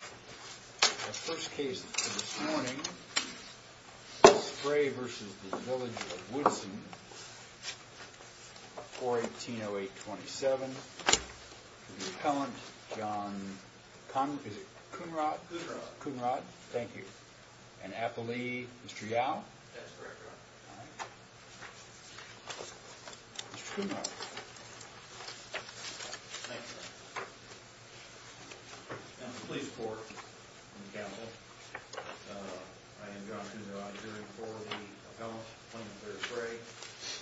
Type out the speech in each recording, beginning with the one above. The first case for this morning is Spray v. The village of Woodson, 4-1808-27. The appellant, John Cunrod. Thank you. And appellee, Mr. Yao. Mr. Cunrod. Thank you. And the police court and the council. I am John Cunrod, hearing for the appellant, Plaintiff Larry Spray.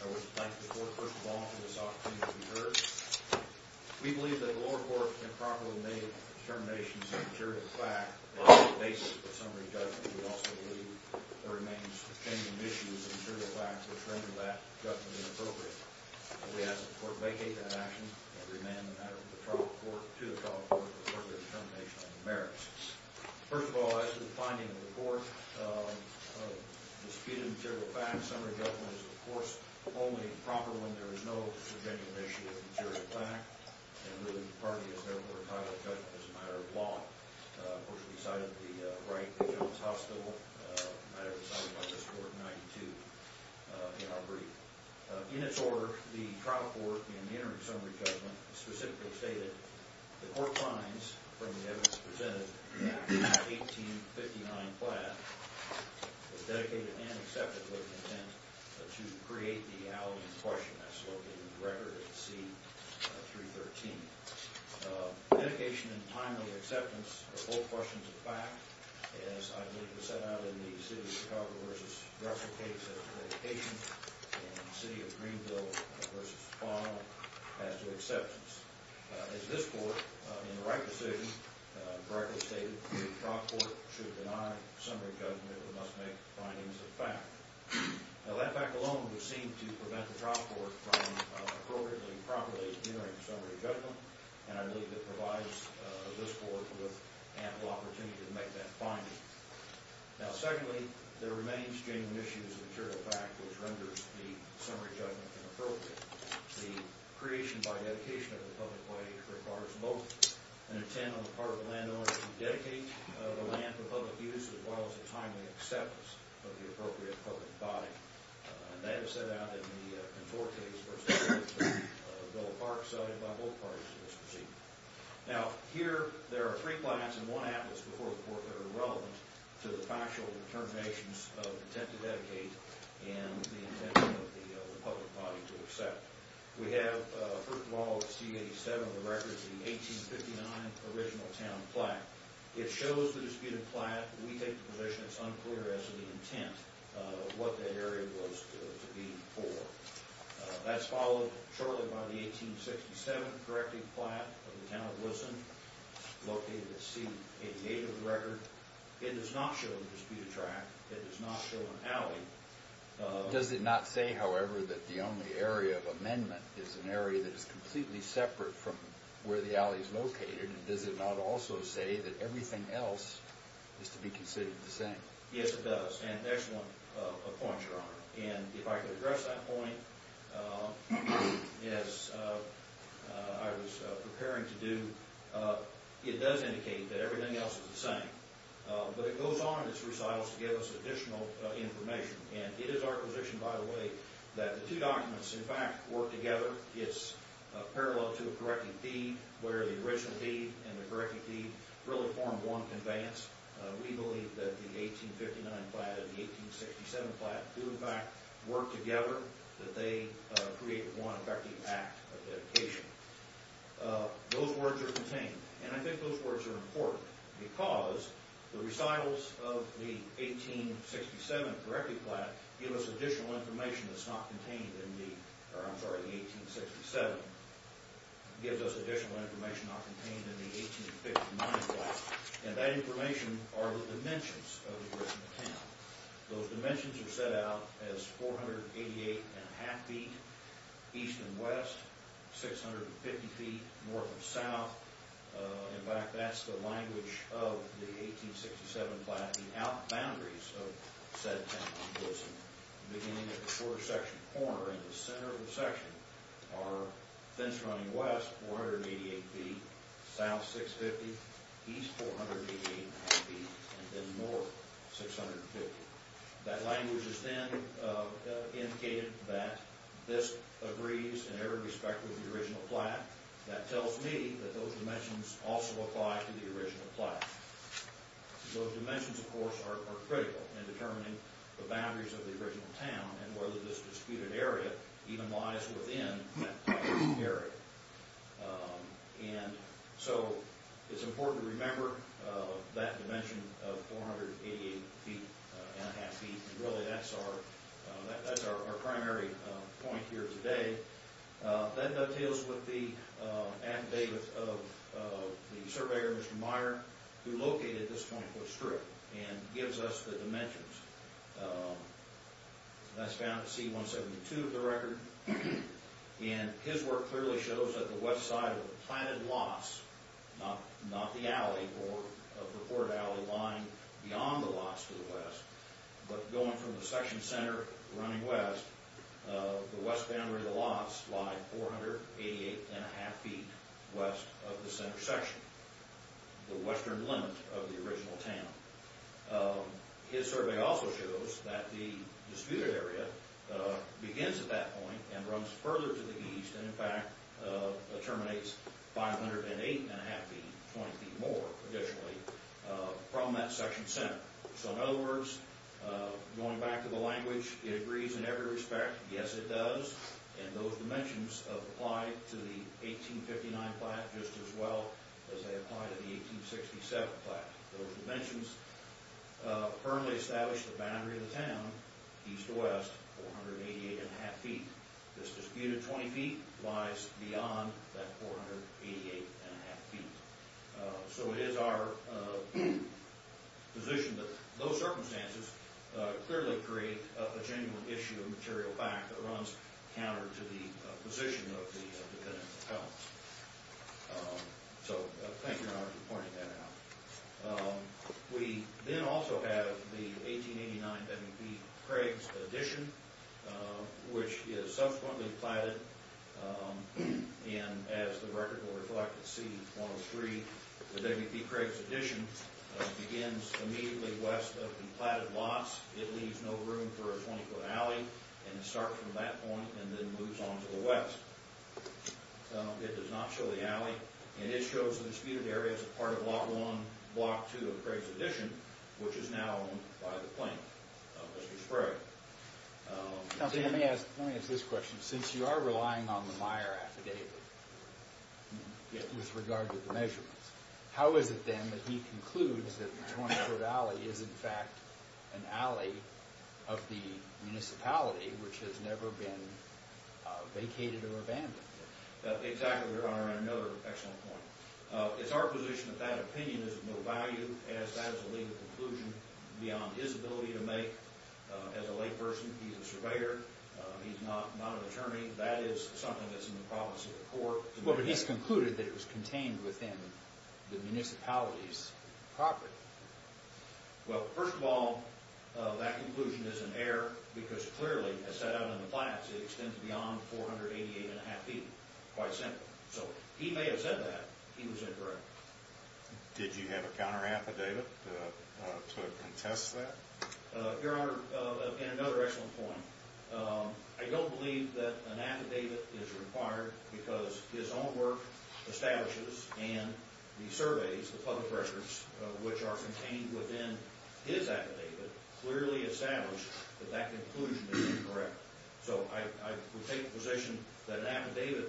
I would like to thank the court, first of all, for this opportunity to be heard. We believe that the lower court can properly make determinations of material fact, and the basis of summary judgment. We also believe there remains a change in issues of material fact, which render that judgment inappropriate. I ask that the court vacate that action, and remand the matter to the trial court for further determination on the merits. First of all, as to the finding of the court, of disputed material fact, summary judgment is, of course, only proper when there is no subjective issue of material fact, and really, the party is therefore entitled to judgment as a matter of law. Of course, we cited the right that John's hostile, a matter decided by this court in 1992, in our brief. In its order, the trial court, in the interim summary judgment, specifically stated, the court finds, from the evidence presented in Act 1859, Platt, was dedicated and accepted with an intent to create the alleged question as located in the record at C313. Dedication and timely acceptance of both questions of fact, as I believe was set out in the City of Chicago versus Russell case, and dedication in City of Greenville versus Fong, as to acceptance. As this court, in the right decision, directly stated, the trial court should deny summary judgment, but must make findings of fact. Now, that fact alone would seem to prevent the trial court from appropriately and properly entering summary judgment, and I believe it provides this court with ample opportunity to make that finding. Now, secondly, there remains genuine issues of material fact, which renders the summary judgment inappropriate. The creation by dedication of the public body requires both an intent on the part of the landowner to dedicate the land for public use, as well as a timely acceptance of the appropriate public body. And that is set out in the Contour case versus Bill of Parks, cited by both parties in this proceeding. Now, here, there are three clients in one atlas before the court that are relevant to the factual determinations of the intent to dedicate and the intent of the public body to accept. We have, first of all, C-87 on the record, the 1859 original town plaque. It shows the disputed plaque. We take the position it's unclear as to the intent of what that area was to be for. That's followed shortly by the 1867 correcting plaque of the town of Wilson, located at C-88 on the record. It does not show the disputed track. It does not show an alley. Does it not say, however, that the only area of amendment is an area that is completely separate from where the alley is located? And does it not also say that everything else is to be considered the same? Yes, it does. And there's one point, Your Honor. And if I could address that point, as I was preparing to do, it does indicate that everything else is the same. But it goes on in its recitals to give us additional information. And it is our position, by the way, that the two documents, in fact, work together. It's parallel to a correcting deed, where the original deed and the correcting deed really form one conveyance. We believe that the 1859 plaque and the 1867 plaque do, in fact, work together, that they create one effective act of dedication. Those words are contained. And I think those words are important because the recitals of the 1867 correcting plaque give us additional information that's not contained in the, or I'm sorry, the 1867, gives us additional information not contained in the 1859 plaque. And that information are the dimensions of the correctional plan. Those dimensions are set out as 488 and a half feet east and west, 650 feet north and south. In fact, that's the language of the 1867 plaque, the out boundaries of said town. Beginning at the quarter section corner and the center of the section are fence running west 488 feet, south 650, east 488 and a half feet, and then north 650. That language is then indicated that this agrees in every respect with the original plaque. That tells me that those dimensions also apply to the original plaque. Those dimensions, of course, are critical in determining the boundaries of the original town and whether this disputed area even lies within that disputed area. And so it's important to remember that dimension of 488 feet and a half feet, and really that's our primary point here today. That details with the affidavit of the surveyor, Mr. Meyer, who located this 24th street and gives us the dimensions. That's found at C-172 of the record. And his work clearly shows that the west side of the planted lots, not the alley or the port alley or the line beyond the lots to the west, but going from the section center running west, the west boundary of the lots lie 488 and a half feet west of the center section, the western limit of the original town. His survey also shows that the disputed area begins at that point and runs further to the east and in fact terminates 508 and a half feet, 20 feet more, additionally, from that section center. So in other words, going back to the language, it agrees in every respect. Yes, it does. And those dimensions apply to the 1859 plot just as well as they apply to the 1867 plot. Those dimensions firmly establish the boundary of the town, east to west, 488 and a half feet. This disputed 20 feet lies beyond that 488 and a half feet. So it is our position that those circumstances clearly create a genuine issue of material fact that runs counter to the position of the defendant's account. So thank you, Your Honor, for pointing that out. We then also have the 1889 W.P. Craig's edition, which is subsequently platted and as the record will reflect, at C-103, the W.P. Craig's edition begins immediately west of the platted lots. It leaves no room for a 20-foot alley and it starts from that point and then moves on to the west. So it does not show the alley and it shows the disputed area as a part of Block 1, Block 2 of Craig's edition, which is now owned by the plaintiff, Mr. Sprague. Let me ask this question. With regard to the measurements, how is it then that he concludes that the 20-foot alley is in fact an alley of the municipality which has never been vacated or abandoned? Exactly, Your Honor, and another excellent point. It's our position that that opinion is of no value as that is a legal conclusion beyond his ability to make. As a layperson, he's a surveyor. He's not an attorney. That is something that's in the province of the court. Well, but he's concluded that it was contained within the municipality's property. Well, first of all, that conclusion is in error because clearly, as set out in the plans, it extends beyond 488 and a half feet. Quite simple. So he may have said that. He was incorrect. Did you have a counter-affidavit to attest to that? Your Honor, and another excellent point, I don't believe that an affidavit is required because his own work establishes and the surveys, the public records which are contained within his affidavit clearly establish that that conclusion is incorrect. So I would take the position that an affidavit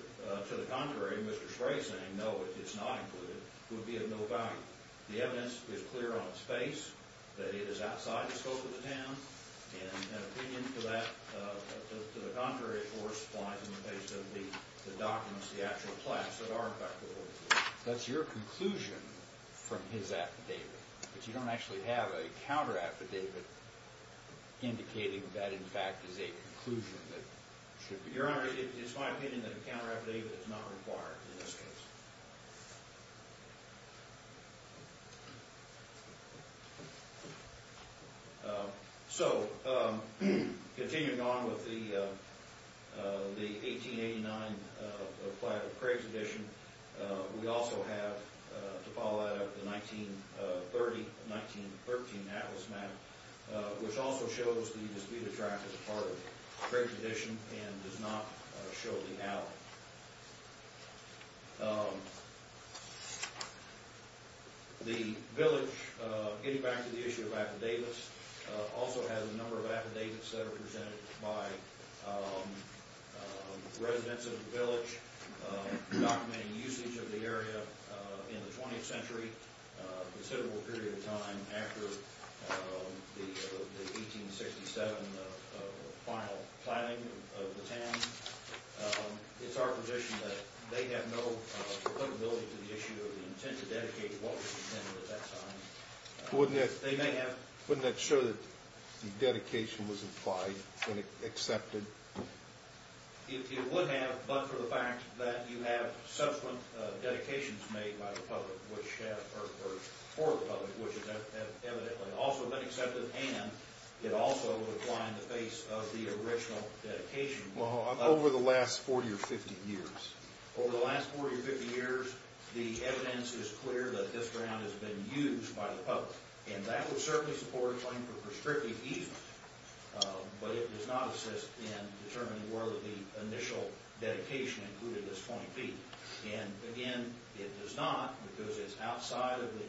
to the contrary, Mr. Spray saying no, it's not included, would be of no value. The evidence is clear on its face that it is outside the scope of the town and an opinion to the contrary or spline in the case of the documents, the actual plans that are in fact the original. That's your conclusion from his affidavit. But you don't actually have a counter-affidavit indicating that in fact is a conclusion that should be. Your Honor, it's my opinion that a counter-affidavit is not required in this case. So, continuing on with the 1889 plat of Craig's edition, we also have to follow that up the 1930-1913 Atlas map which also shows the disputed tract as part of Craig's edition and does not show the alley. The village getting back to the issue of affidavits also has a number of affidavits that are presented by residents of the village documenting usage of the area in the 20th century, a considerable period of time after the 1867 final planning of the town. It's our position that they have no applicability to the issue of the intent to dedicate what was intended at that time. Wouldn't that show that it has been accepted? It would have but for the fact that you have subsequent dedications made by the public which have or for the public which have evidently also been accepted and it also would apply in the face of the original dedication. Over the last 40 or 50 years? Over the last 40 or 50 years, the evidence is clear that this ground has been used by the public and that would certainly support a claim for prescriptive easement but it does not assist in determining whether the initial dedication included this 20 feet and again it does not because it's outside of the statute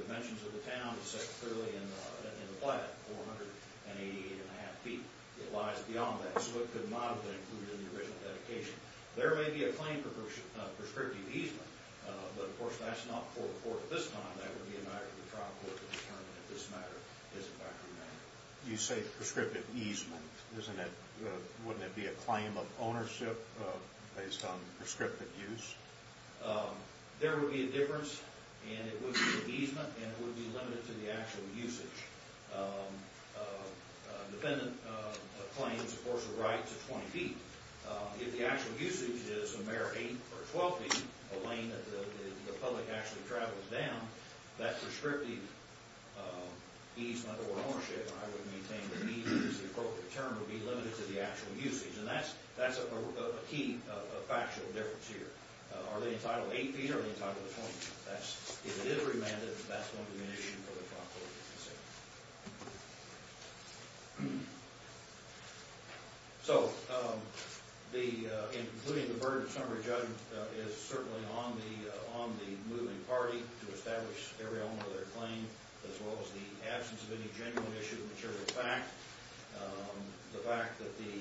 but of course that's not for the court at this time that would be a matter for the trial court to determine if this matter is a background matter. You say prescriptive easement wouldn't it be a claim of ownership based on prescriptive use? There would be a difference and it would be an easement and it would be limited to the actual usage. Dependent claims of course are right to 20 feet. If the actual usage is a mere 8 or 12 feet a lane that the public actually travels down that prescriptive easement or ownership I would maintain that the appropriate term would be limited to the actual usage. And that's a key factual difference here. Are they entitled to 8 feet or are they entitled to 20 feet? If it is remanded that's one of the conditions for the property to be considered. So the including the verdict summary judgment is certainly on the moving party to establish every element of their claim as well as the absence of any genuine issue material fact. The fact that the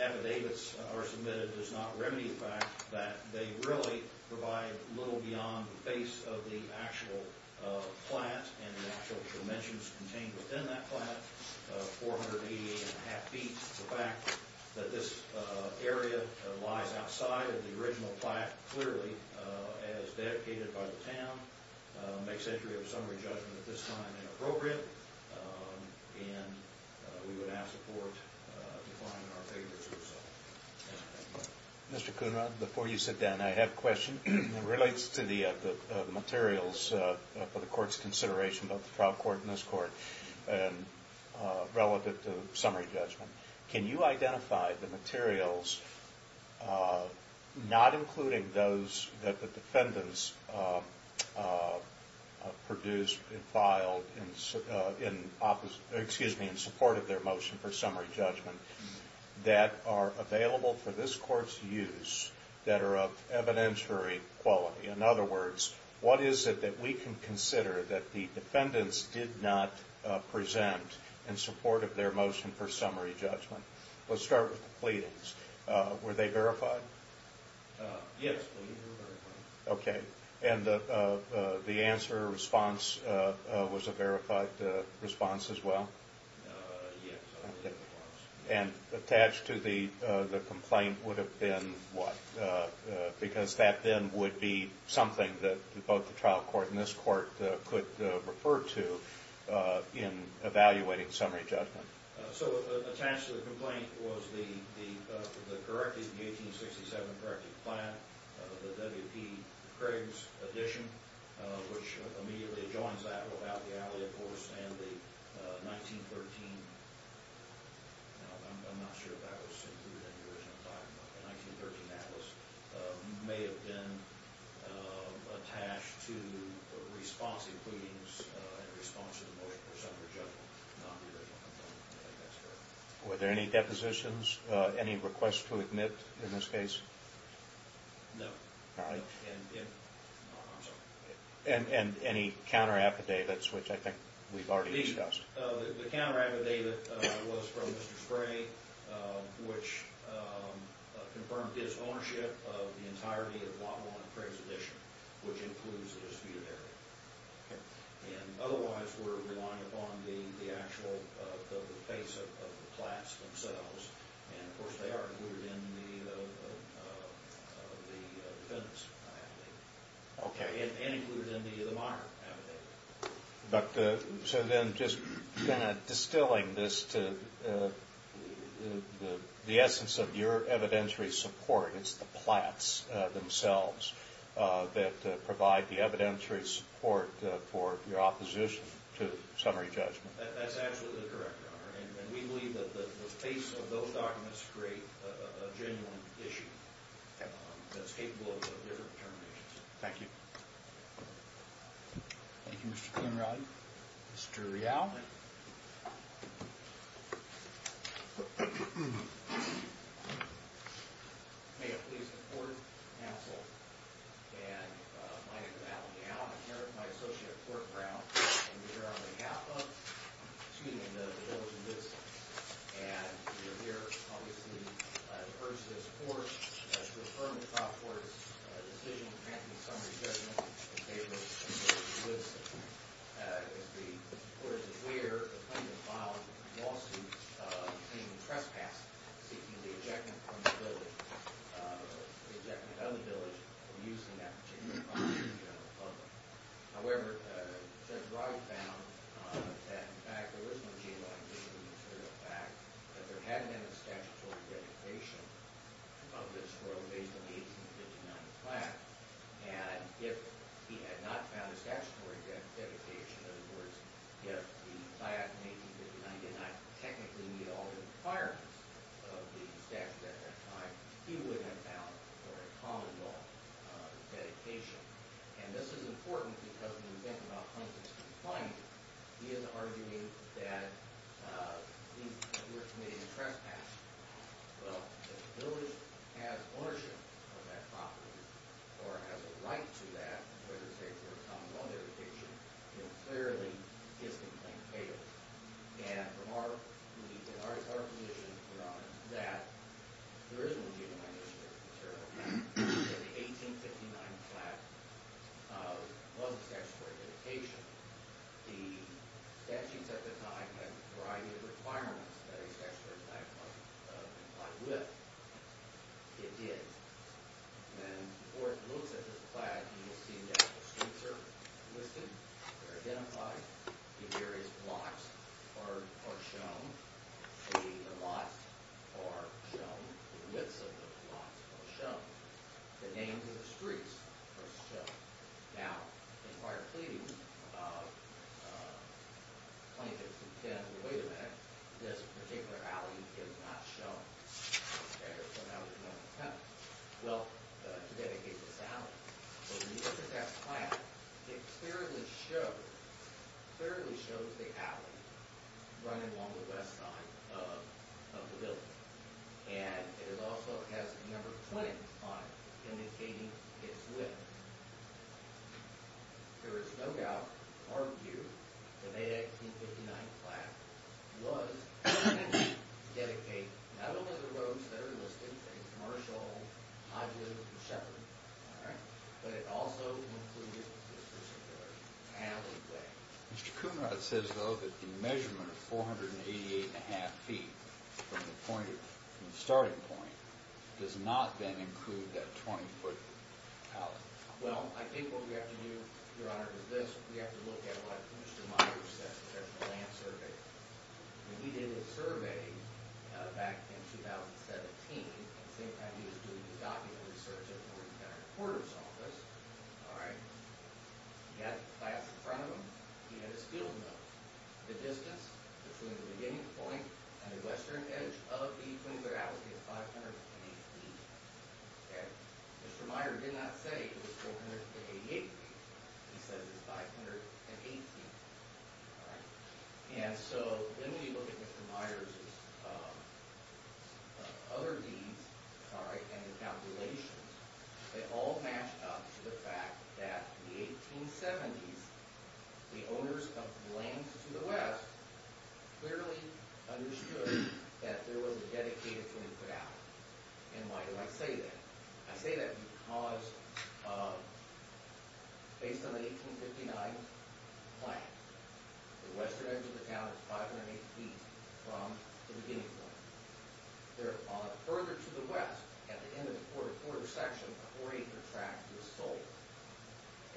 affidavits are submitted does not remedy the fact that they really provide little beyond the base of the actual plant and the actual dimensions contained within that plant, 488.5 feet. The fact that this area lies outside of the original plant clearly as dedicated by the town makes entry of the court defined in our favor. Mr. Kuhnrad, before you sit down, I have a question. It relates to the materials for the court's consideration of the trial court and this court relative to summary judgment. Can you identify the materials not in summary judgment that are available for this court's use that are of evidentiary quality? In other words, what is it that we can consider that the defendants did not present in support of their motion for summary judgment? Let's start with the pleadings. Were they verified? Yes. Okay. And the answer, response, was a verified response as well? Yes. And attached to the complaint would have been what? Because that then would be something that both the trial court and this court could refer to in evaluating summary judgment. So attached to the complaint was the corrected plan, the W.P. Craig's addition, which immediately joins that without the alley of course and the 1913, I'm not sure if that was included in the original plan, but the 1913 atlas may have been attached to responsive pleadings in response to the motion for summary judgment. Were there any depositions, any requests to admit in this case? No. And any counter affidavits, which I think we've already discussed? The counter affidavit was from Mr. Spray, which confirmed his ownership of the entirety of W.P. Craig's addition, which includes the disputed area. And otherwise we're relying upon the actual face of the class themselves and of course they are included in the defendants affidavit. Okay. And included in the minor affidavit. But so then just distilling this to the essence of your evidentiary support, it's the plats themselves that provide the evidentiary support for your opposition to summary judgment. That's actually the we're dealing with. And we believe that the face of those documents create a issue that's capable of terminations. Thank you. Thank you, Mr. Quinrod. Mr. Rial. May it please the court counsel and my name is John Rial. I'm the attorney general of the district and we're here obviously to urge the court to affirm the decision of summary judgment in favor of the district. As the court is aware, the district not found a statutory dedication of this rule based on the 1859 fact. And if he had not found a statutory dedication, in other words, if the fact in 1859 did not technically meet all the requirements of the statute at that time, he would have not found a common law dedication. And this is important because when you think about Huntington's complaint, he is arguing that he was committing a trespass. Well, the district has been to a trespass. Now in prior pleadings of plaintiffs who said, wait a minute, this particular alley is not shown in the statute, so that was not the plan. Well, to dedicate not only the roads that are also the roads that are listed, so that was not the plan. So that was not the plan. All right. But it also included this particular alleyway. Mr. Kuhnrath says, though, that the measurement of 488.5 feet from the starting point does not then include that 20-foot alley. Well, I think what we have to do, Your Honor, is this. We have to look at what Mr. Myers said. He said that the distance between the starting point and the western edge of the 20-foot alleyway is 580 feet. Okay. Mr. Myers did not say it was 488 feet. He said it was 580 feet. All right. And so when we look at Mr. Kuhnrath's observations, they all match up to the fact that in the 1870s, the owners of the lands to the west clearly understood that there was a dedicated 20-foot alley. And why do I say that? I say that because based on the 1859 plan, the western edge of the town is only a quarter of a section of the four-acre tract that was sold.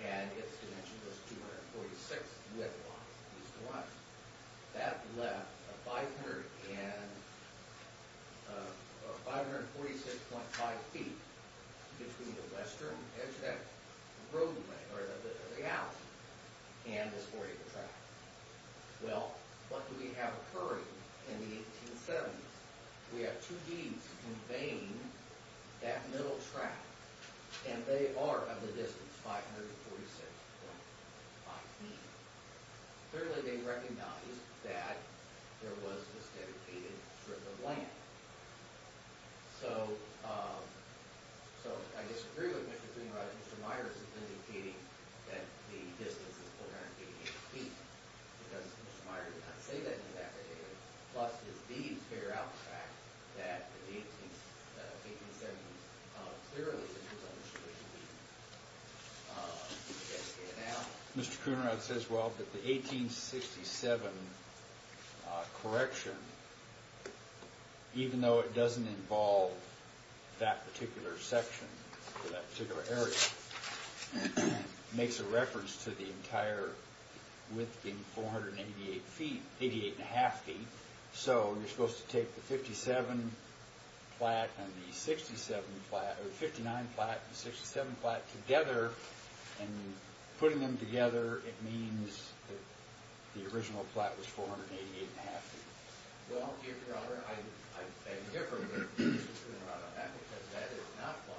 And it's dimension was 246 width lines. That left 546.5 feet between the western edge of that roadway or the alley and this four-acre tract. Well, what do we have occurring in the 1870s? We have two deeds conveying that middle tract, and they are of the distance 546.5 feet. Clearly, they recognized that there was this dedicated strip of land. So, I disagree with Mr. Greenrider. Mr. Myers is indicating that the 1870s clearly did not say that exactly. Plus, his deeds figure out the fact that the 1870s clearly did not indicate that. Now, Mr. Coonerod says, well, that the 1867 correction, even though it doesn't involve that particular section or that particular area, makes a reference to the entire width being 488 feet, 88.5 feet. So, you're supposed to take the 57 flat and the 67 flat, or 59 flat and the 67 flat together, and putting them together, it means that the original flat was 488.5 feet. Well, Your Honor, I differ with Mr. Coonerod on that because that is not what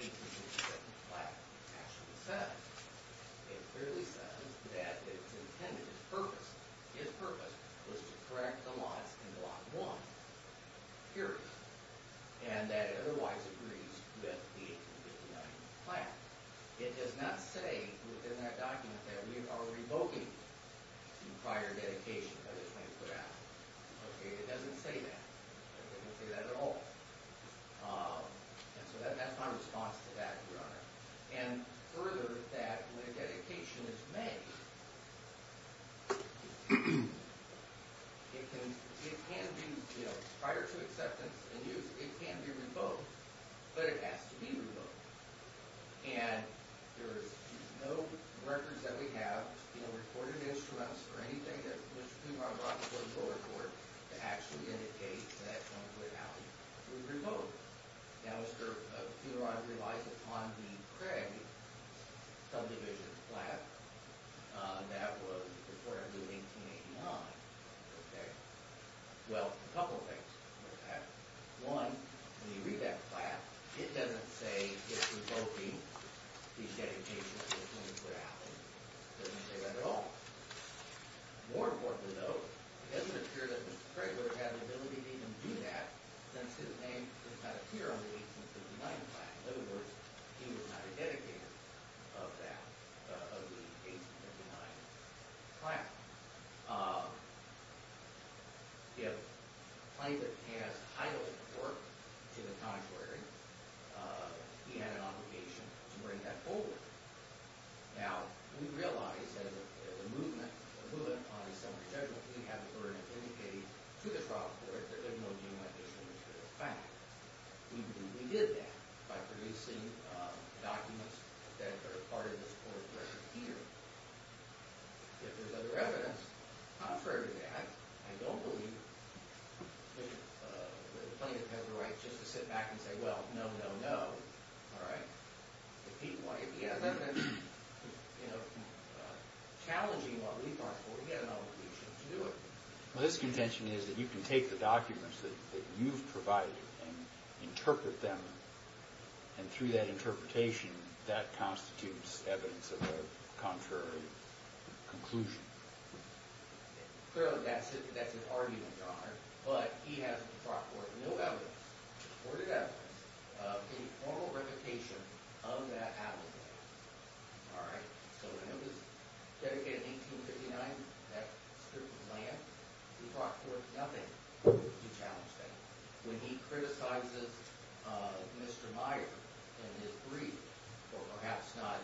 the 1867 flat actually says. It clearly says that it's intended, its purpose, his purpose was to correct the lots in lot 1, period. And that otherwise agrees with the 1859 flat. It does not say within that document that we are revoking the prior dedication that is being put out. Okay? It doesn't say that. It doesn't say that at all. And so that's my response to that, Your Honor. And further, that when a dedication is made, it can be, you know, prior to acceptance and use, it can be revoked. And there is no records that we have, you know, recorded instruments or anything that Mr. Funerar brought before the Court to actually indicate that it's going to be revoked. Now Mr. Funerar relies upon the Craig subdivision flat that was reported in 1889. Okay? Well, a couple of things are correct with that. One, when you read that flat, it doesn't say it's revoking the dedication that was going to be put out. It doesn't say that at all. More importantly though, it doesn't appear that Mr. Craig would have the ability to even do that since his name does not appear on the 1859 flat. In other words, he was not a dedicator of that, of the 1859 flat. If private has titled work to the contrary, he had an obligation to bring that forward. Now, we realize as a movement on a similar judgment we have the to do that. We did that by producing documents that are part of this court's record here. If there's other evidence, contrary to that, I don't believe that the plaintiff has the right just to sit back and say, you know, all right, if he has evidence challenging what we thought, we have an obligation to do it. Well, his contention is that you can take the documents that you've provided and interpret them and through that interpretation that constitutes evidence of a contrary conclusion. Clearly, that's his argument, Your Honor, but he has brought forth no evidence, supported evidence, of any formal reputation of that allegation. All right? So when it was dedicated in 1859, that strip of land, he brought forth nothing to challenge that. When he criticizes Mr. Meyer in his brief, or perhaps not,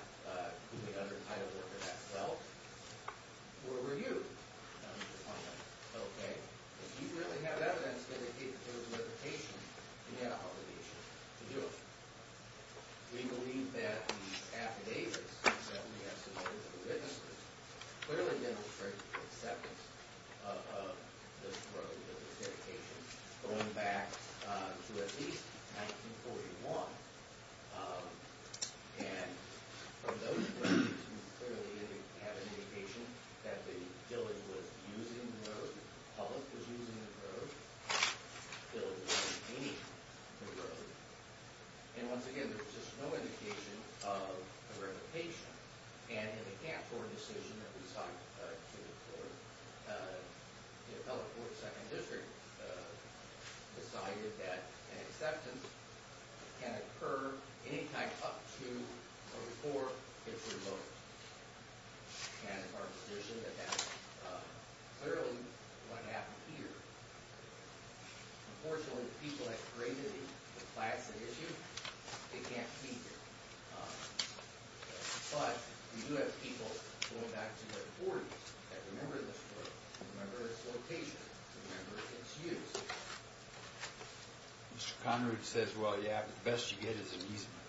the other day, Meyer said, well, where were you? Mr. Meyer said, okay, if you really have evidence dedicated to those reputations, you have an obligation to do it. We believe that the affidavits that we have submitted to the witnesses clearly demonstrate the acceptance of this reputation. And clearly, they have an indication that the building was using the road, the public was using the road, the building was maintaining the road. And once again, there's just no indication of a reputation. And in account for a decision that we sought to declare, the Appellate Court of the 2nd District decided that an acceptance can occur anytime up to or before it's revoked. And it's our position that that's clearly what happened here. Unfortunately, the people that created the class and issue, they can't see it. But, we do have people going back to their 40s that remember this road, remember its location, remember its use. Mr. Conrude says, well, yeah, but the best you get is amusement.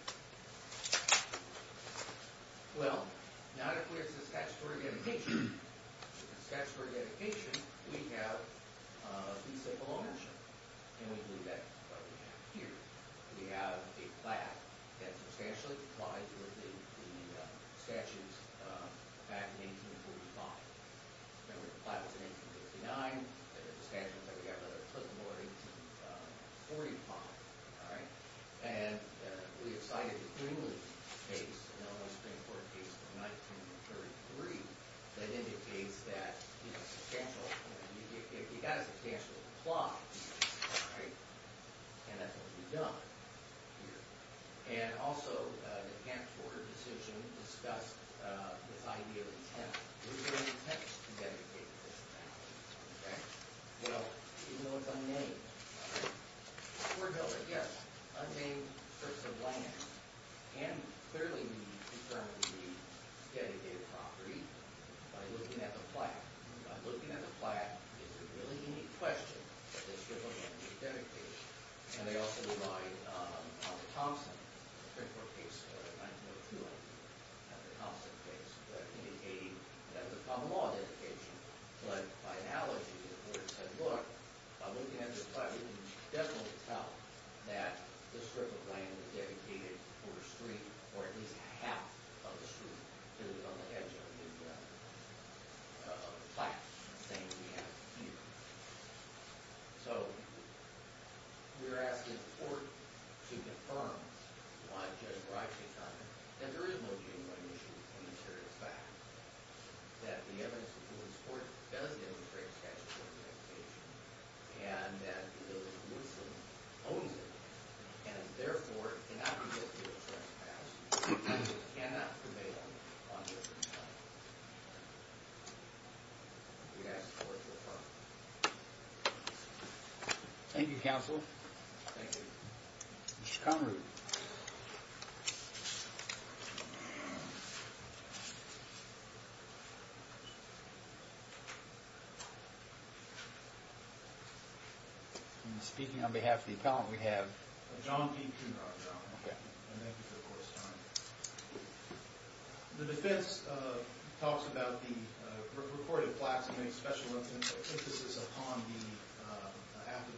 Well, not if we're Saskatchewan dedication. Saskatchewan dedication, we have in Saskatchewan is a retirement home. And we have a plaque that substantially collides with the statues back in 1845. Remember, the plaque was in 1859, the statue was like we have another clipboard in 1845. And we have cited the Greenland case in 1933 that indicates that you got a substantial plaque and that's what you've done. And also the camp order decision discussed this in 1903 also discussed in 1903. And the Greenland case was also discussed in 1904. And the Greenland case was